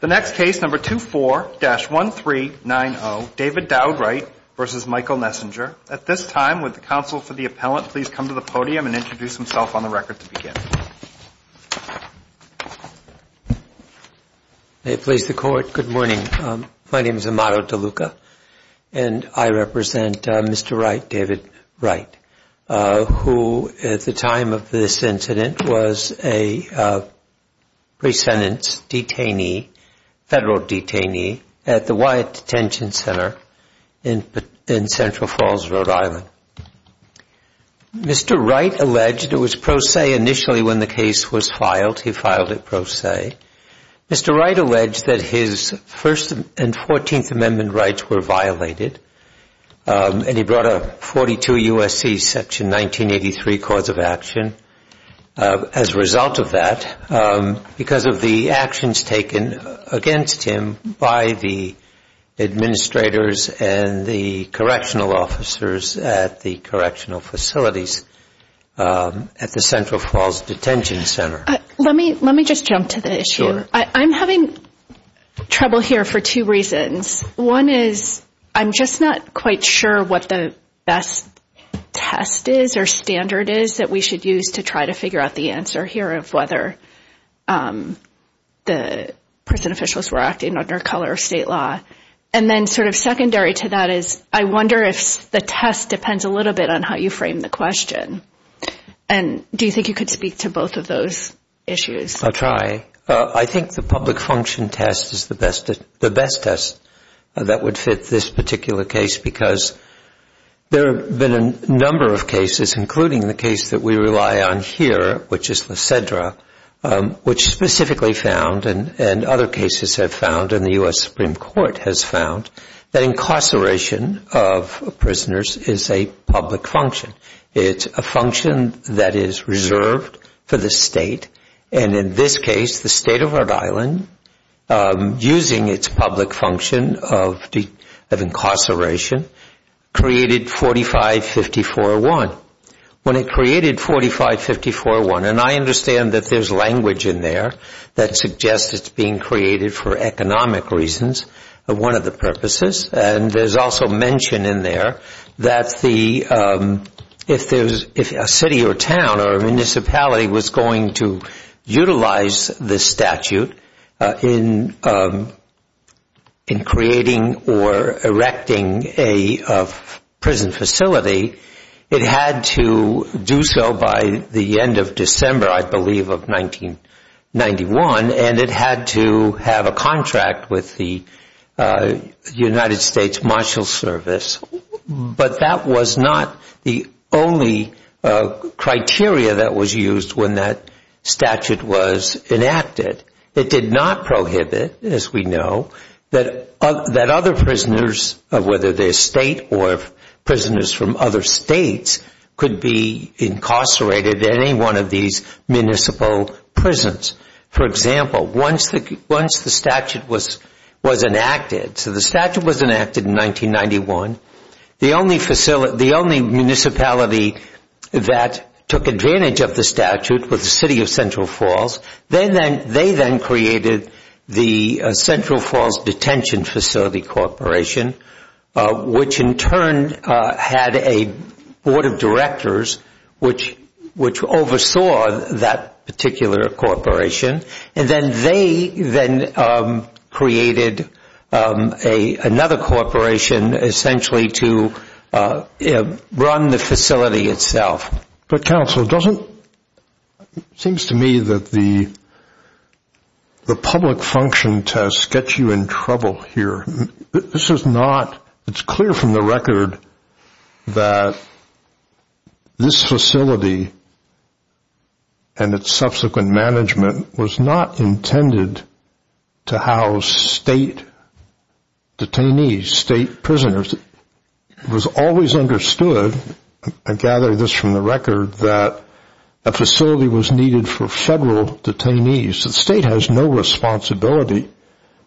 The next case, number 24-1390, David Dowd-Wright v. Michael Nessinger. At this time, would the counsel for the appellant please come to the podium and introduce himself on the record to begin. May it please the Court, good morning. My name is Amado DeLuca, and I represent Mr. Wright, David Wright, who at the time of this incident was a pre-sentence defendant. He was a federal detainee at the Wyatt Detention Center in Central Falls, Rhode Island. Mr. Wright alleged it was pro se initially when the case was filed, he filed it pro se. Mr. Wright alleged that his First and Fourteenth Amendment rights were violated, and he brought a 42 U.S.C. section 1983 cause of action. As a result of that, because of the actions taken against him by the administrators and the correctional officers at the correctional facilities at the Central Falls Detention Center. Let me just jump to the issue. I'm having trouble here for two reasons. One is, I'm just not quite sure what the best test is or standard is that we should use to try to figure out the answer here of whether the prison officials were acting under color or state law. And then sort of secondary to that is, I wonder if the test depends a little bit on how you frame the question. And do you think you could speak to both of those issues? I'll try. I think the public function test is the best test that would fit this particular case, because there have been a number of cases, including the case that we rely on here, which is Lysedra, which specifically found, and other cases have found, and the U.S. Supreme Court has found, that incarceration of prisoners is a public function. It's a function that is reserved for the state, and in this case, the state of Rhode Island, using its public function of incarceration, created 4554-1. When it created 4554-1, and I understand that there's language in there that suggests it's being created for economic reasons, one of the purposes, and there's also mention in there that if a city or town or municipality was going to utilize this statute, in creating or erecting a prison facility, it had to do so by the end of December, I believe, of 1991, and it had to have a contract with the United States Marshal Service. But that was not the only criteria that was used when that statute was enacted. It did not prohibit, as we know, that other prisoners, whether they're state or prisoners from other states, could be incarcerated in any one of these municipal prisons. For example, once the statute was enacted, so the statute was enacted in 1991, the only municipality that took advantage of the statute was the city of Central Falls, they then created the Central Falls Detention Facility Corporation, which in turn had a board of directors which oversaw that particular corporation, and then they then created another corporation essentially to run the facility itself. But, counsel, it seems to me that the public function test gets you in trouble here. This is not, it's clear from the record that this facility and its subsequent management was not intended to house state detainees, state prisoners. It was always understood, I gather this from the record, that a facility was needed for federal detainees. The state has no responsibility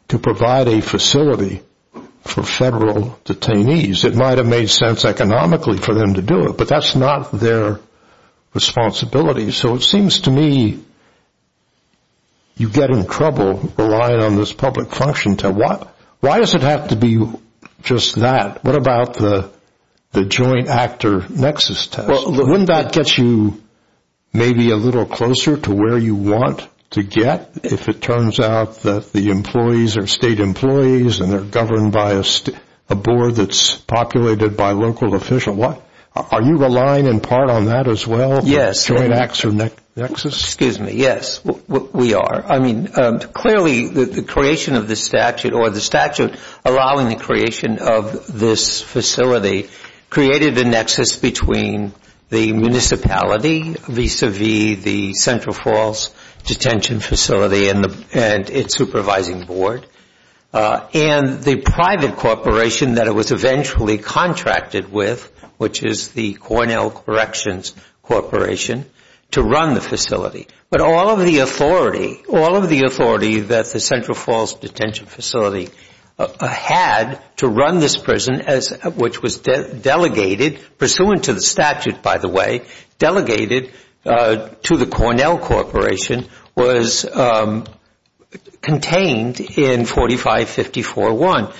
to provide a facility for federal detainees. It might have made sense economically for them to do it, but that's not their responsibility. So it seems to me you get in trouble relying on this public function test. Why does it have to be just that? What about the joint actor nexus test? Wouldn't that get you maybe a little closer to where you want to get if it turns out that the employees are state employees and they're governed by a board that's populated by local officials? Are you relying in part on that as well, the joint actor nexus? Excuse me, yes, we are. I mean, clearly the creation of the statute or the statute allowing the creation of this facility created a nexus between the municipality vis-a-vis the Central Falls Detention Facility and its supervising board and the private corporation that it was eventually contracted with, which is the Cornell Corrections Corporation, to run the facility. But all of the authority that the Central Falls Detention Facility had to run this prison, which was delegated, pursuant to the statute, by the way, delegated to the Cornell Corporation, was contained in 4554-1.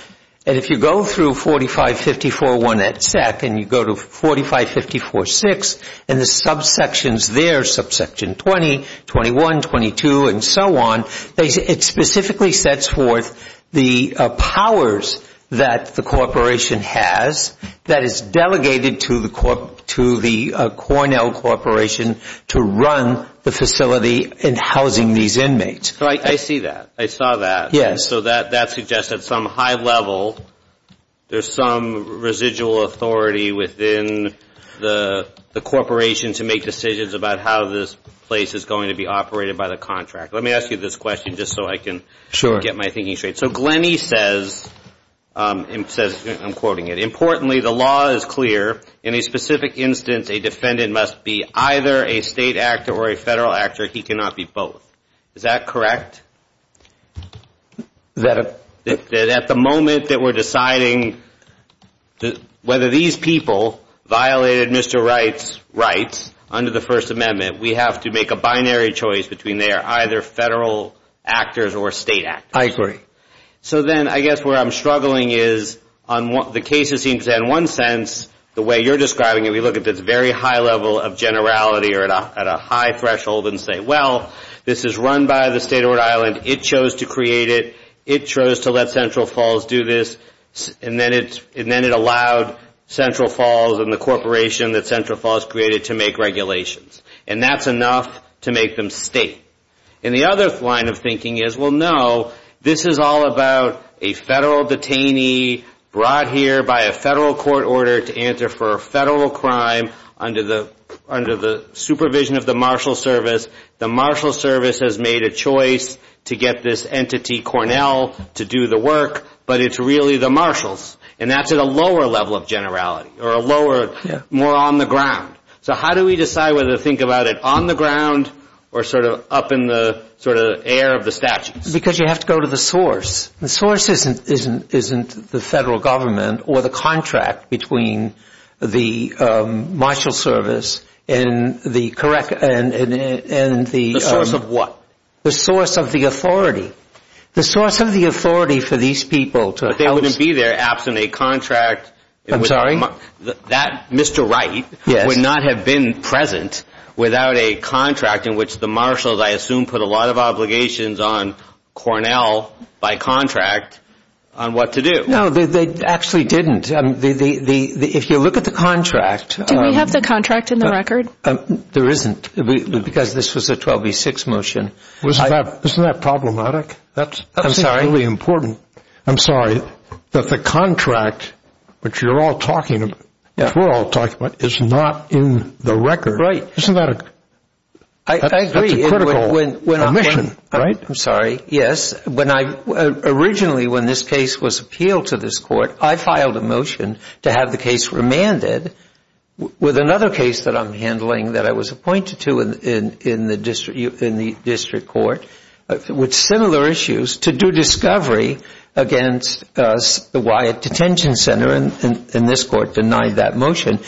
And if you go through 4554-1 at SEC and you go to 4554-6, and the subsections there, subsection 20, 21, 22, and so on, it specifically sets forth the powers that the corporation has that is delegated to the Cornell Corporation to run the facility and housing these inmates. I see that. I saw that. Yes, so that suggests at some high level there's some residual authority within the corporation to make decisions about how this place is going to be operated by the contract. Let me ask you this question just so I can get my thinking straight. So Glenny says, I'm quoting it, importantly, the law is clear. In a specific instance a defendant must be either a state actor or a federal actor. He cannot be both. Is that correct? At the moment that we're deciding whether these people violated Mr. Wright's rights under the First Amendment, we have to make a binary choice between they are either federal actors or state actors. I agree. So then I guess where I'm struggling is on the cases in one sense, the way you're describing it, we look at this very high level of generality or at a high threshold and say, well, this is run by the state of Rhode Island, it chose to create it, it chose to let Central Falls do this, and then it allowed Central Falls and the corporation that Central Falls created to make regulations. And that's enough to make them state. And the other line of thinking is, well, no, this is all about a federal detainee brought here by a federal court order to answer for a federal crime under the supervision of the marshal service. The marshal service has made a choice to get this entity, Cornell, to do the work, but it's really the marshals, and that's at a lower level of generality or more on the ground. So how do we decide whether to think about it on the ground or sort of up in the air of the statutes? Because you have to go to the source. The source isn't the federal government or the contract between the marshal service and the correct and the source of what? The source of the authority. The source of the authority for these people to help. But they wouldn't be there absent a contract. I'm sorry? That Mr. Wright would not have been present without a contract in which the marshals, I assume, put a lot of obligations on Cornell by contract on what to do. No, they actually didn't. If you look at the contract. Do we have the contract in the record? There isn't, because this was a 12B6 motion. Isn't that problematic? That's really important. I'm sorry, that the contract, which you're all talking about, which we're all talking about, is not in the record. Right. Isn't that a critical omission? I'm sorry, yes. Originally when this case was appealed to this court, I filed a motion to have the case remanded with another case that I'm handling that I was appointed to in the district court with similar issues to do discovery against the Wyatt Detention Center and this court denied that motion.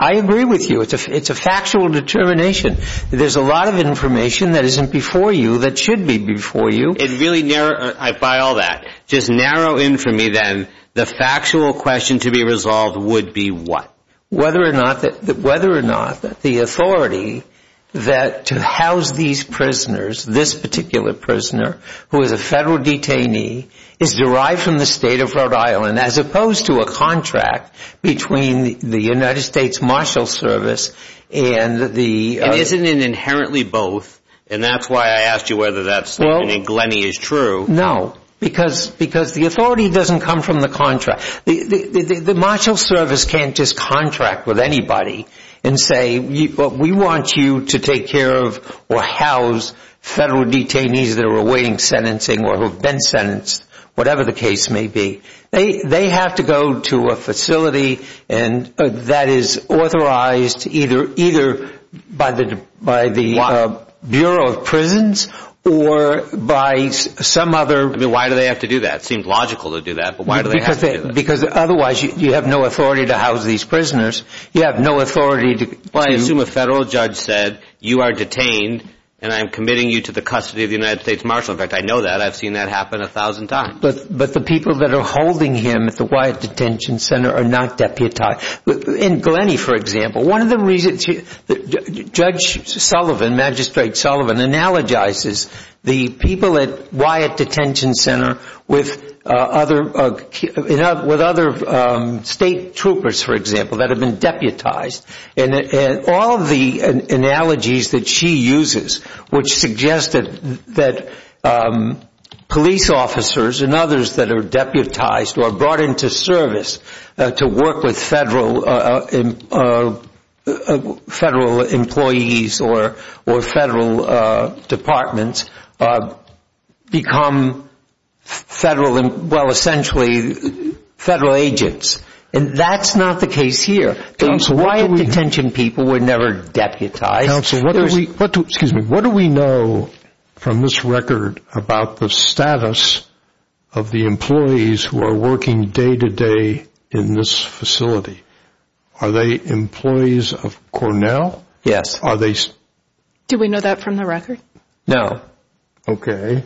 I agree with you. It's a factual determination. There's a lot of information that isn't before you that should be before you. By all that, just narrow in for me, then, the factual question to be resolved would be what? Whether or not the authority to house these prisoners, this particular prisoner, who is a federal detainee, is derived from the state of Rhode Island as opposed to a contract between the state and the state. The United States Marshal Service. Isn't it inherently both? That's why I asked you whether that statement in Glenny is true. No, because the authority doesn't come from the contract. The Marshal Service can't just contract with anybody and say, we want you to take care of or house federal detainees that are awaiting sentencing or who have been sentenced, whatever the case may be. They have to go to a facility that is authorized either by the Bureau of Prisons or by some other... Why do they have to do that? It seems logical to do that, but why do they have to do that? Because otherwise, you have no authority to house these prisoners. You have no authority to... Well, I assume a federal judge said you are detained and I'm committing you to the custody of the United States Marshal. In fact, I know that. I've seen that happen a thousand times. But the people that are holding him at the Wyatt Detention Center are not deputized. In Glenny, for example, one of the reasons Judge Sullivan, Magistrate Sullivan, analogizes the people at Wyatt Detention Center with other state troopers, for example, that have been deputized. And all of the analogies that she uses, which suggested that police officers and others that are deputized or brought into service to work with federal employees or federal departments become federal, well, essentially, federal agents. And that's not the case here. Council, what do we know from this record about the status of the employees who are working day-to-day in this facility? Are they employees of Cornell? Yes. Do we know that from the record? No. Okay.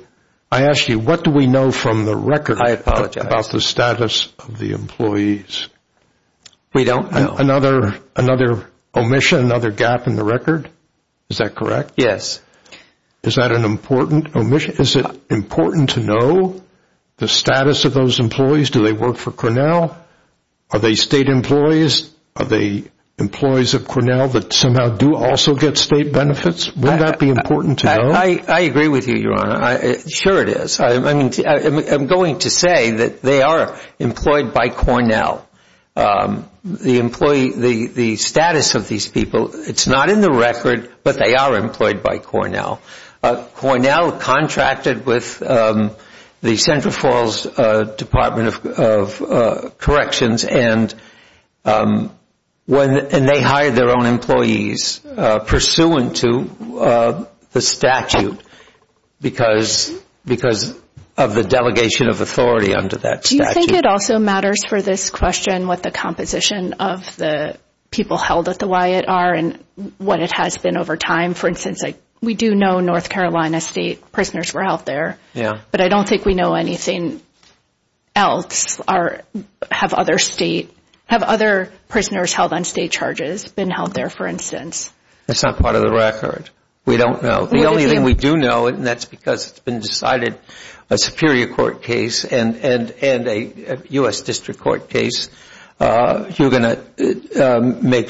I asked you, what do we know from the record about the status of the employees? We don't know. Another omission, another gap in the record? Is that correct? Yes. Is that an important omission? Is it important to know the status of those employees? Do they work for Cornell? Are they state employees? Are they employees of Cornell that somehow do also get state benefits? Would that be important to know? I agree with you, Your Honor. Sure it is. I'm going to say that they are employed by Cornell. The employee, the status of these people, it's not in the record, but they are employed by Cornell. Cornell contracted with the Central Falls Department of Corrections, and they hired their own employees pursuant to the statute because of the delegation of authority under that statute. Do you think it also matters for this question what the composition of the people held at the Wyatt are and what it has been over time? For instance, we do know North Carolina state prisoners were held there, but I don't think we know anything else. Have other prisoners held on state charges been held there, for instance? That's not part of the record. We don't know. The only thing we do know, and that's because it's been decided a Superior Court case and a U.S. District Court case makes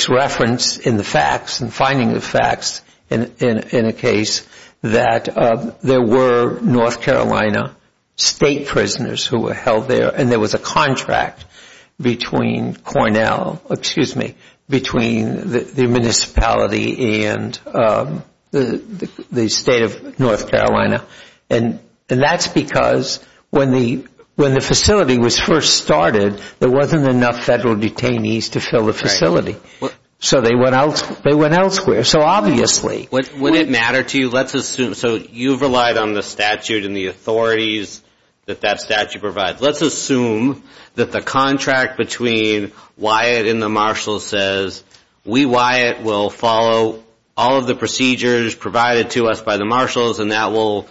reference in the facts and finding the facts in a case that there were North Carolina state prisoners who were held there, and there was a contract between Cornell, excuse me, between the municipality and the state of North Carolina. And that's because when the facility was first started, there wasn't enough federal detainees to fill the facility. So they went elsewhere. So obviously... Would it matter to you? So you've relied on the statute and the authorities that that statute provides. Let's assume that the contract between Wyatt and the Marshals says, we, Wyatt, will follow all of the procedures provided to us by the Marshals, and that will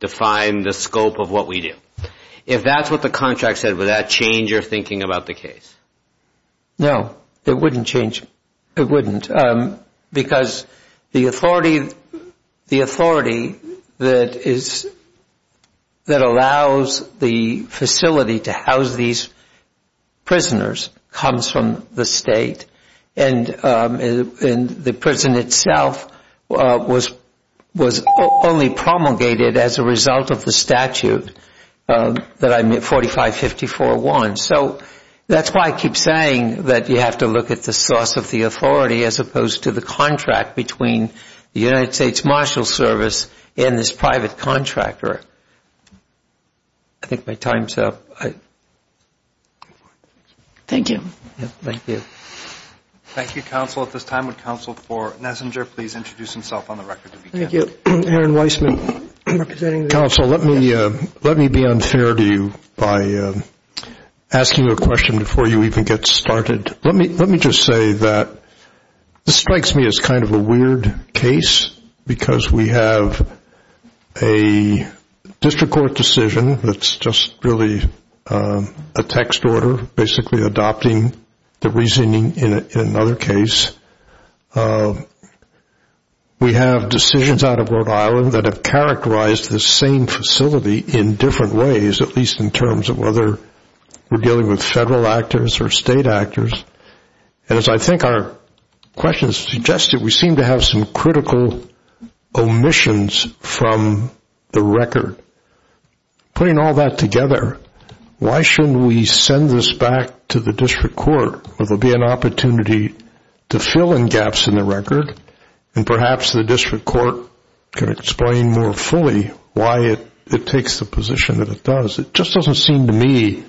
define the scope of what we do. If that's what the contract said, would that change your thinking about the case? No. It wouldn't change. Because the authority that allows the facility to house these prisoners comes from the state, and the prison itself was only promulgated as a result of the statute, 4554-1. So that's why I keep saying that you have to look at the source of the authority as opposed to the contract between the United States Marshals Service and this private contractor. I think my time's up. Thank you. Thank you. Thank you, Counsel. At this time, would Counsel for Nessinger please introduce himself on the record? Thank you. Aaron Weissman, representing the... Let me be unfair to you by asking a question before you even get started. Let me just say that this strikes me as kind of a weird case because we have a district court decision that's just really a text order basically adopting the reasoning in another case. We have decisions out of Rhode Island that have characterized the same facility in different ways, at least in terms of whether we're dealing with federal actors or state actors. And as I think our questions suggested, we seem to have some critical omissions from the record. Putting all that together, why shouldn't we send this back to the district court where there will be an opportunity to fill in gaps in the record and perhaps the district court can explain more fully why it takes the position that it does? It just doesn't seem to me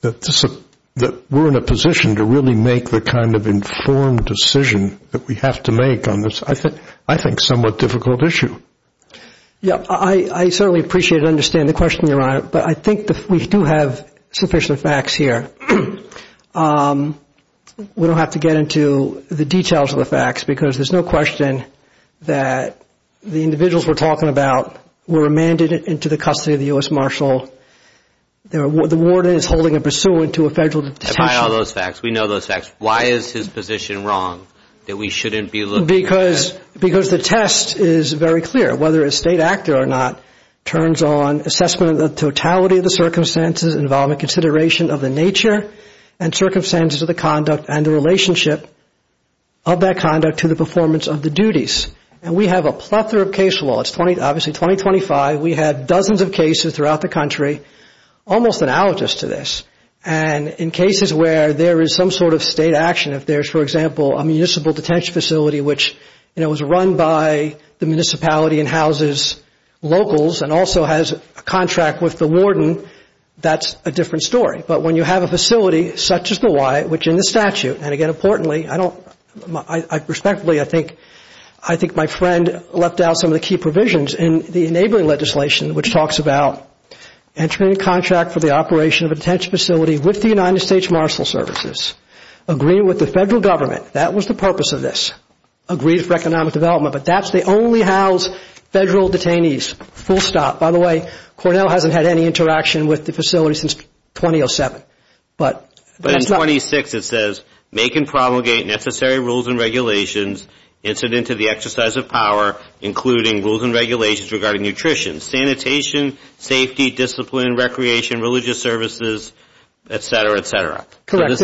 that we're in a position to really make the kind of informed decision that we have to make on this, I think, somewhat difficult issue. Yeah, I certainly appreciate and understand the question, Your Honor, but I think we do have sufficient facts here. We don't have to get into the details of the facts because there's no question that the individuals we're talking about were remanded into the custody of the U.S. Marshal. The warden is holding a pursuant to a federal decision. I've had all those facts. We know those facts. Why is his position wrong that we shouldn't be looking at... Because the test is very clear. Whether a state actor or not turns on assessment of the totality of the circumstances involving consideration of the nature and circumstances of the conduct and the relationship of that conduct to the performance of the duties. And we have a plethora of case law. It's obviously 2025. We have dozens of cases throughout the country almost analogous to this. And in cases where there is some sort of state action, if there's, for example, a municipal detention facility which, you know, is run by the municipality and houses locals and also has a contract with the warden, that's a different story. But when you have a facility such as the Y, which in the statute, and again importantly, I don't... Respectfully, I think my friend left out some of the key provisions in the enabling legislation which talks about entering a contract for the operation of a detention facility with the United States Marshal Services, agreeing with the federal government that was the purpose of this, agreed for economic development, but that's the only house federal detainees. Full stop. By the way, Cornell hasn't had any interaction with the facility since 2007. But in 26 it says, make and promulgate necessary rules and regulations incident to the exercise of power including rules and regulations regarding nutrition, sanitation, safety, discipline, recreation, religious services, et cetera, et cetera. Correct.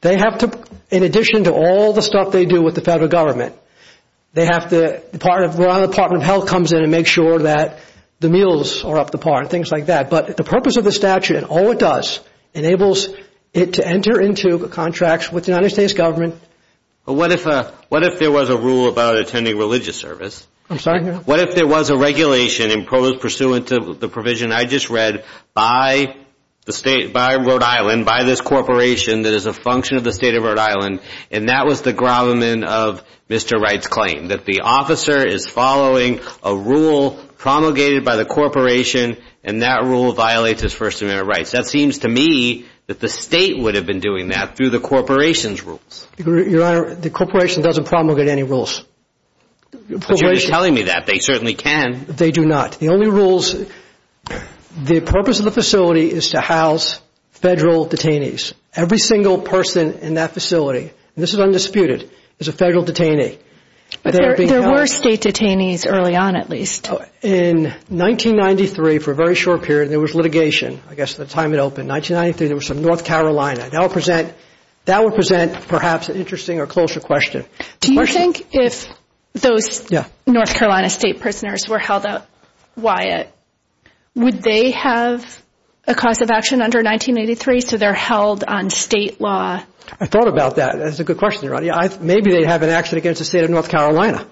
They have to, in addition to all the stuff they do with the federal government, they have to, the Department of Health comes in and makes sure that the meals are up to par and things like that. But the purpose of the statute and all it does enables it to enter into contracts with the United States government. But what if there was a rule about attending religious service? I'm sorry? What if there was a regulation pursuant to the provision I just read by the state, by Rhode Island, by this corporation that is a function of the state of Rhode Island, and that was the gravamen of Mr. Wright's claim, that the officer is following a rule promulgated by the corporation and that rule violates his First Amendment rights? That seems to me that the state would have been doing that through the corporation's rules. Your Honor, the corporation doesn't promulgate any rules. But you're telling me that. They certainly can. They do not. The only rules, the purpose of the facility is to house federal detainees. Every single person in that facility, and this is undisputed, is a federal detainee. But there were state detainees early on at least. In 1993, for a very short period, there was litigation. I guess at the time it opened, 1993, there was some North Carolina. That would present perhaps an interesting or closer question. Do you think if those North Carolina state prisoners were held at Wyatt, would they have a cause of action under 1983 so they're held on state law? I thought about that. That's a good question, Your Honor. Maybe they'd have an action against the state of North Carolina.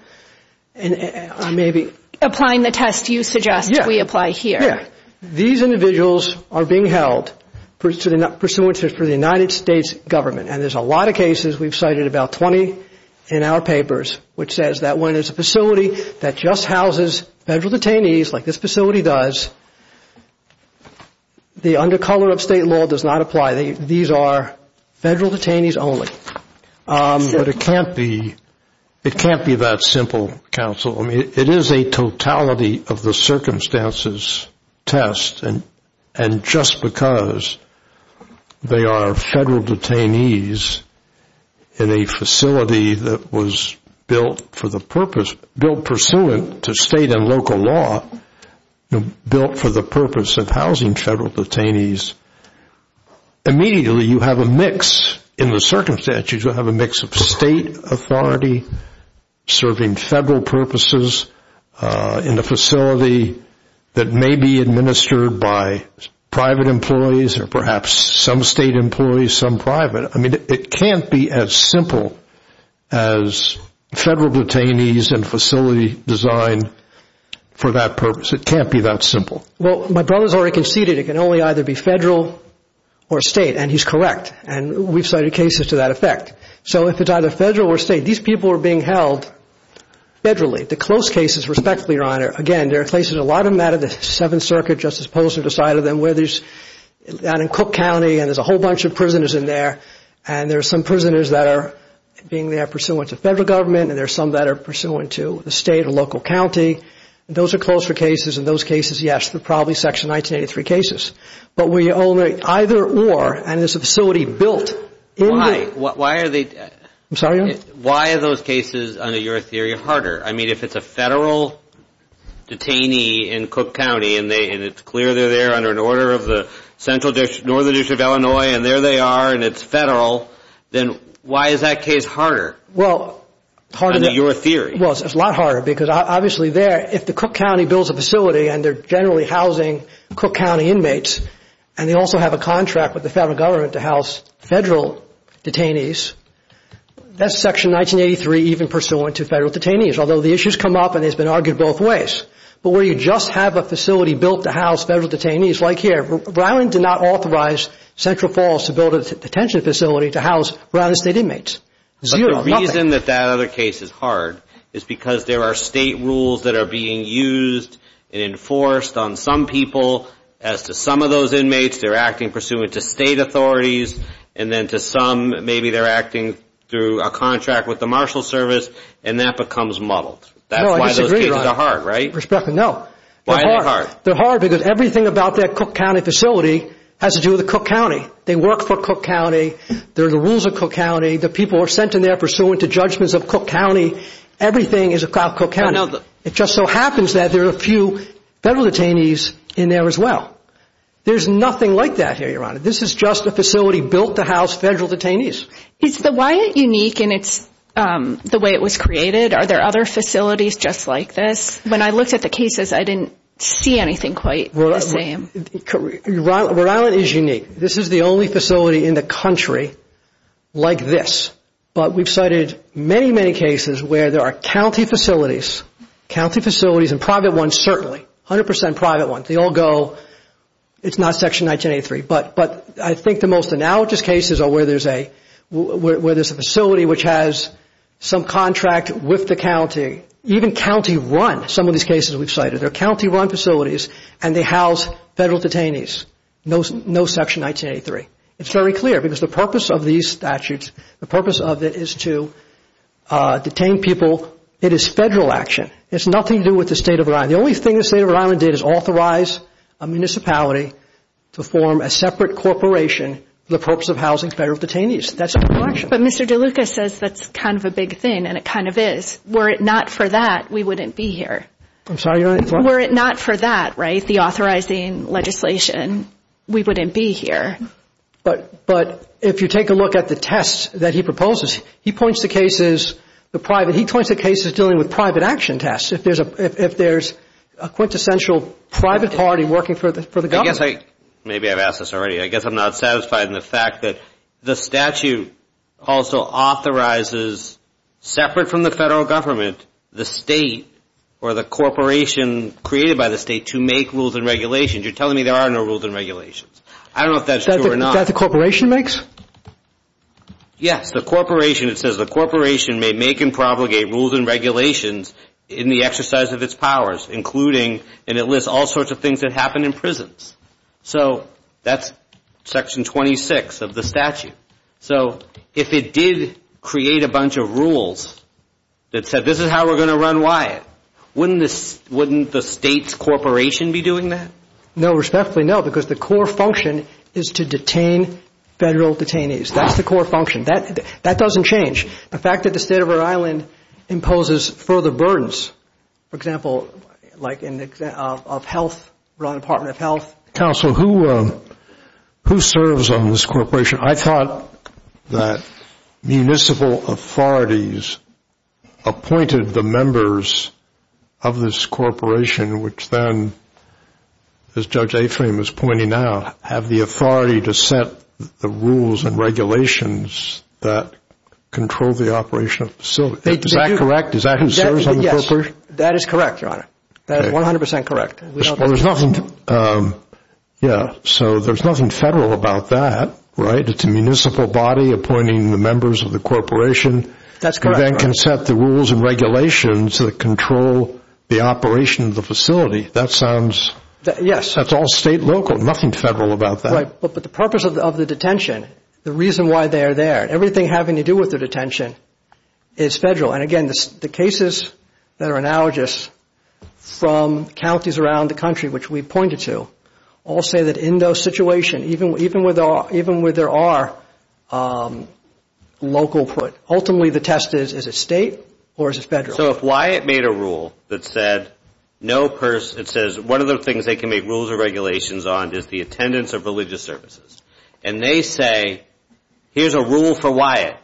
Applying the test you suggest we apply here. These individuals are being held pursuant to the United States government, and there's a lot of cases we've cited, about 20 in our papers, which says that when it's a facility that just houses federal detainees, like this facility does, the under color of state law does not apply. These are federal detainees only. But it can't be that simple, counsel. It is a totality of the circumstances test, and just because they are federal detainees in a facility that was built for the purpose, built pursuant to state and local law, built for the purpose of housing federal detainees, immediately you have a mix in the circumstances. You have a mix of state authority serving federal purposes in a facility that may be administered by private employees or perhaps some state employees, some private. I mean, it can't be as simple as federal detainees and facility design for that purpose. It can't be that simple. Well, my brother's already conceded it can only either be federal or state, and he's correct. And we've cited cases to that effect. So if it's either federal or state, these people are being held federally. The close cases, respectfully, Your Honor, again, there are places a lot of them out of the Seventh Circuit, Justice Polson decided them, where there's down in Cook County, and there's a whole bunch of prisoners in there, and there's some prisoners that are being there pursuant to federal government, and there's some that are pursuant to the state or local county. Those are closer cases, and those cases, yes, they're probably Section 1983 cases. But we only either or, and it's a facility built. Why? Why are they? I'm sorry, Your Honor? Why are those cases, under your theory, harder? I mean, if it's a federal detainee in Cook County, and it's clear they're there under an order of the Northern District of Illinois, and there they are, and it's federal, then why is that case harder under your theory? Well, it's a lot harder because obviously there, if the Cook County builds a facility and they're generally housing Cook County inmates, and they also have a contract with the federal government to house federal detainees, that's Section 1983 even pursuant to federal detainees, although the issues come up and it's been argued both ways. But where you just have a facility built to house federal detainees, like here, Browning did not authorize Central Falls to build a detention facility to house Browning State inmates. Zero, nothing. But the reason that that other case is hard is because there are state rules that are being used and enforced on some people. As to some of those inmates, they're acting pursuant to state authorities, and then to some, maybe they're acting through a contract with the marshal service, and that becomes muddled. That's why those cases are hard, right? Respectfully, no. Why are they hard? They're hard because everything about that Cook County facility has to do with Cook County. They work for Cook County. There are the rules of Cook County. The people are sent in there pursuant to judgments of Cook County. Everything is about Cook County. It just so happens that there are a few federal detainees in there as well. There's nothing like that here, Your Honor. This is just a facility built to house federal detainees. Is the Wyatt unique in the way it was created? Are there other facilities just like this? When I looked at the cases, I didn't see anything quite the same. Rhode Island is unique. This is the only facility in the country like this. But we've cited many, many cases where there are county facilities, county facilities and private ones certainly, 100% private ones. They all go, it's not Section 1983. But I think the most analogous cases are where there's a facility which has some contract with the county. Even county-run, some of these cases we've cited, they're county-run facilities and they house federal detainees. No Section 1983. It's very clear because the purpose of these statutes, the purpose of it is to detain people. It is federal action. It has nothing to do with the State of Rhode Island. What Rhode Island did is authorize a municipality to form a separate corporation for the purpose of housing federal detainees. That's federal action. But Mr. DeLuca says that's kind of a big thing, and it kind of is. Were it not for that, we wouldn't be here. Were it not for that, right, the authorizing legislation, we wouldn't be here. But if you take a look at the tests that he proposes, he points to cases, he points to cases dealing with private action tests. If there's a quintessential private party working for the government. Maybe I've asked this already. I guess I'm not satisfied in the fact that the statute also authorizes, separate from the federal government, the state or the corporation created by the state to make rules and regulations. You're telling me there are no rules and regulations. I don't know if that's true or not. That the corporation makes? Yes, the corporation. It says the corporation may make and propagate rules and regulations in the exercise of its powers, including, and it lists all sorts of things that happen in prisons. So that's section 26 of the statute. So if it did create a bunch of rules that said this is how we're going to run WIAT, wouldn't the state's corporation be doing that? No, respectfully, no, because the core function is to detain federal detainees. That's the core function. That doesn't change. The fact that the state of Rhode Island imposes further burdens, for example, like in health, Rhode Island Department of Health. Counsel, who serves on this corporation? I thought that municipal authorities appointed the members of this corporation, which then, as Judge Aframe is pointing out, have the authority to set the rules and regulations that control the operation of the facility. Is that correct? Is that who serves on the corporation? Yes, that is correct, Your Honor. That is 100% correct. Well, there's nothing, yeah, so there's nothing federal about that, right? It's a municipal body appointing the members of the corporation. That's correct. You then can set the rules and regulations that control the operation of the facility. That sounds, that's all state local. There's nothing federal about that. Right, but the purpose of the detention, the reason why they are there, everything having to do with the detention is federal. And again, the cases that are analogous from counties around the country, which we pointed to, all say that in those situations, even where there are local put, ultimately the test is, is it state or is it federal? So if Wyatt made a rule that said, it says one of the things they can make rules and regulations on is the attendance of religious services. And they say, here's a rule for Wyatt.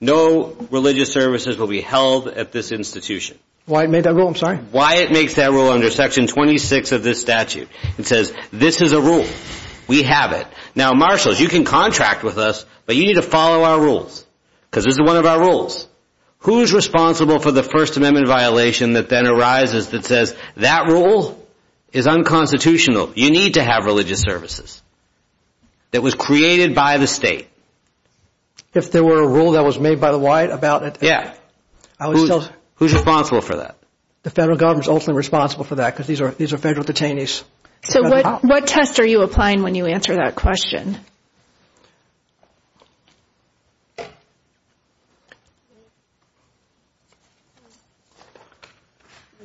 No religious services will be held at this institution. Wyatt made that rule, I'm sorry? Wyatt makes that rule under Section 26 of this statute. It says, this is a rule. We have it. Now, marshals, you can contract with us, but you need to follow our rules. Because this is one of our rules. Who's responsible for the First Amendment violation that then arises that says, that rule is unconstitutional. You need to have religious services. That was created by the state. If there were a rule that was made by the Wyatt about it? Yeah. Who's responsible for that? The federal government is ultimately responsible for that because these are federal detainees. So what test are you applying when you answer that question?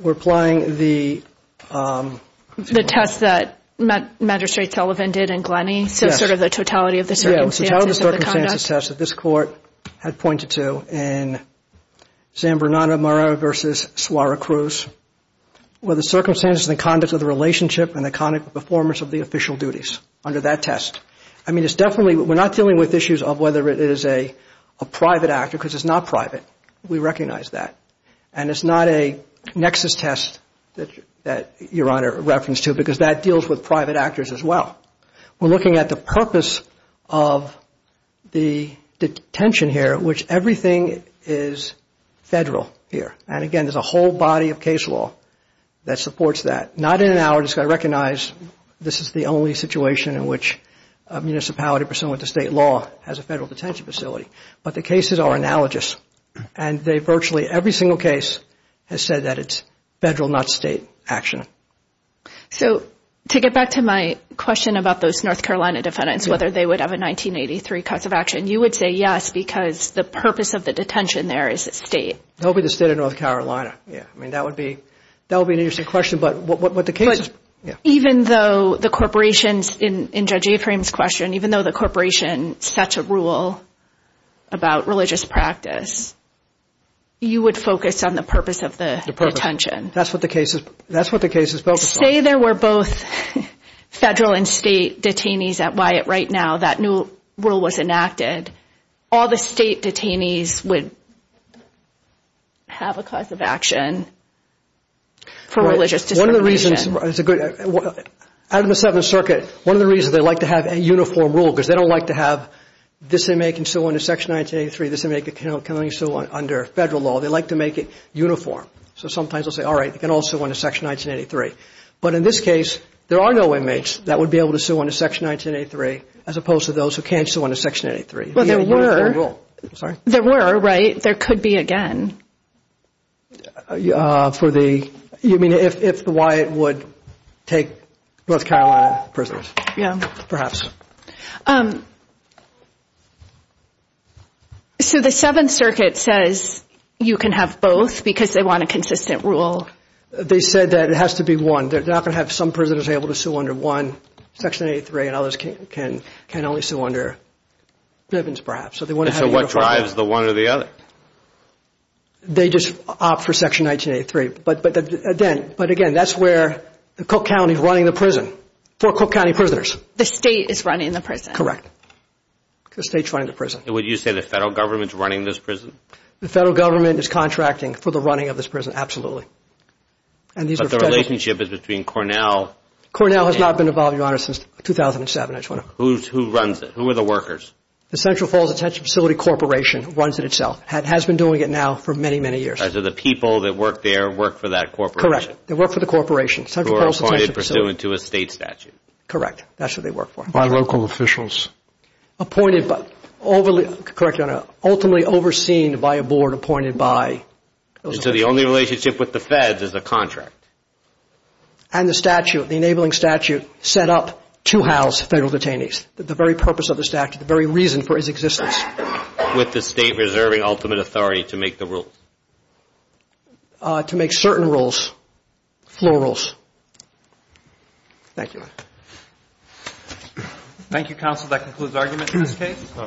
We're applying the test that Magistrate Sullivan did in Glenny. Yes. So sort of the totality of the circumstances of the conduct. Yeah, the totality of the circumstances test that this court had pointed to in San Bernardino versus Suarez Cruz. Well, the circumstances and the conduct of the relationship and the conduct and performance of the official duties under that test. I mean, it's definitely, we're not dealing with issues of whether it is a private actor, because it's not private. We recognize that. And it's not a nexus test that Your Honor referenced to because that deals with private actors as well. We're looking at the purpose of the detention here, which everything is federal here. And, again, there's a whole body of case law that supports that. Not in an hour, just got to recognize this is the only situation in which a municipality pursuant to state law has a federal detention facility. But the cases are analogous. And virtually every single case has said that it's federal, not state action. So to get back to my question about those North Carolina defendants, whether they would have a 1983 cuts of action, you would say yes because the purpose of the detention there is state. They'll be the state of North Carolina. I mean, that would be an interesting question. Even though the corporations, in Judge Aframe's question, even though the corporation sets a rule about religious practice, you would focus on the purpose of the detention? That's what the case is focused on. Say there were both federal and state detainees at Wyatt right now. That new rule was enacted. All the state detainees would have a cause of action for religious discrimination. One of the reasons, out of the Seventh Circuit, one of the reasons they like to have a uniform rule because they don't like to have this inmate can sue under Section 1983, this inmate can only sue under federal law. They like to make it uniform. So sometimes they'll say, all right, they can all sue under Section 1983. But in this case, there are no inmates that would be able to sue under Section 1983 as opposed to those who can't sue under Section 1983. Well, there were. Sorry? There were, right? There could be again. You mean if the Wyatt would take North Carolina prisoners? Yeah. Perhaps. So the Seventh Circuit says you can have both because they want a consistent rule. They said that it has to be one. They're not going to have some prisoners able to sue under one, Section 1983, and others can only sue under Bivens, perhaps. And so what drives the one or the other? They just opt for Section 1983. But again, that's where Cook County is running the prison for Cook County prisoners. The state is running the prison? Correct. The state's running the prison. Would you say the federal government's running this prison? The federal government is contracting for the running of this prison, absolutely. But the relationship is between Cornell. Cornell has not been involved, Your Honor, since 2007. Who runs it? Who are the workers? The Central Falls Attention Facility Corporation runs it itself. It has been doing it now for many, many years. So the people that work there work for that corporation? Correct. They work for the corporation. Central Falls Attention Facility. Who are appointed pursuant to a state statute. Correct. That's what they work for. By local officials. Appointed by, correct, Your Honor, ultimately overseen by a board appointed by. So the only relationship with the feds is a contract. And the statute, the enabling statute set up to house federal detainees. The very purpose of the statute, the very reason for his existence. With the state reserving ultimate authority to make the rules? To make certain rules, floor rules. Thank you, Your Honor. Thank you, counsel. That concludes arguments in this case.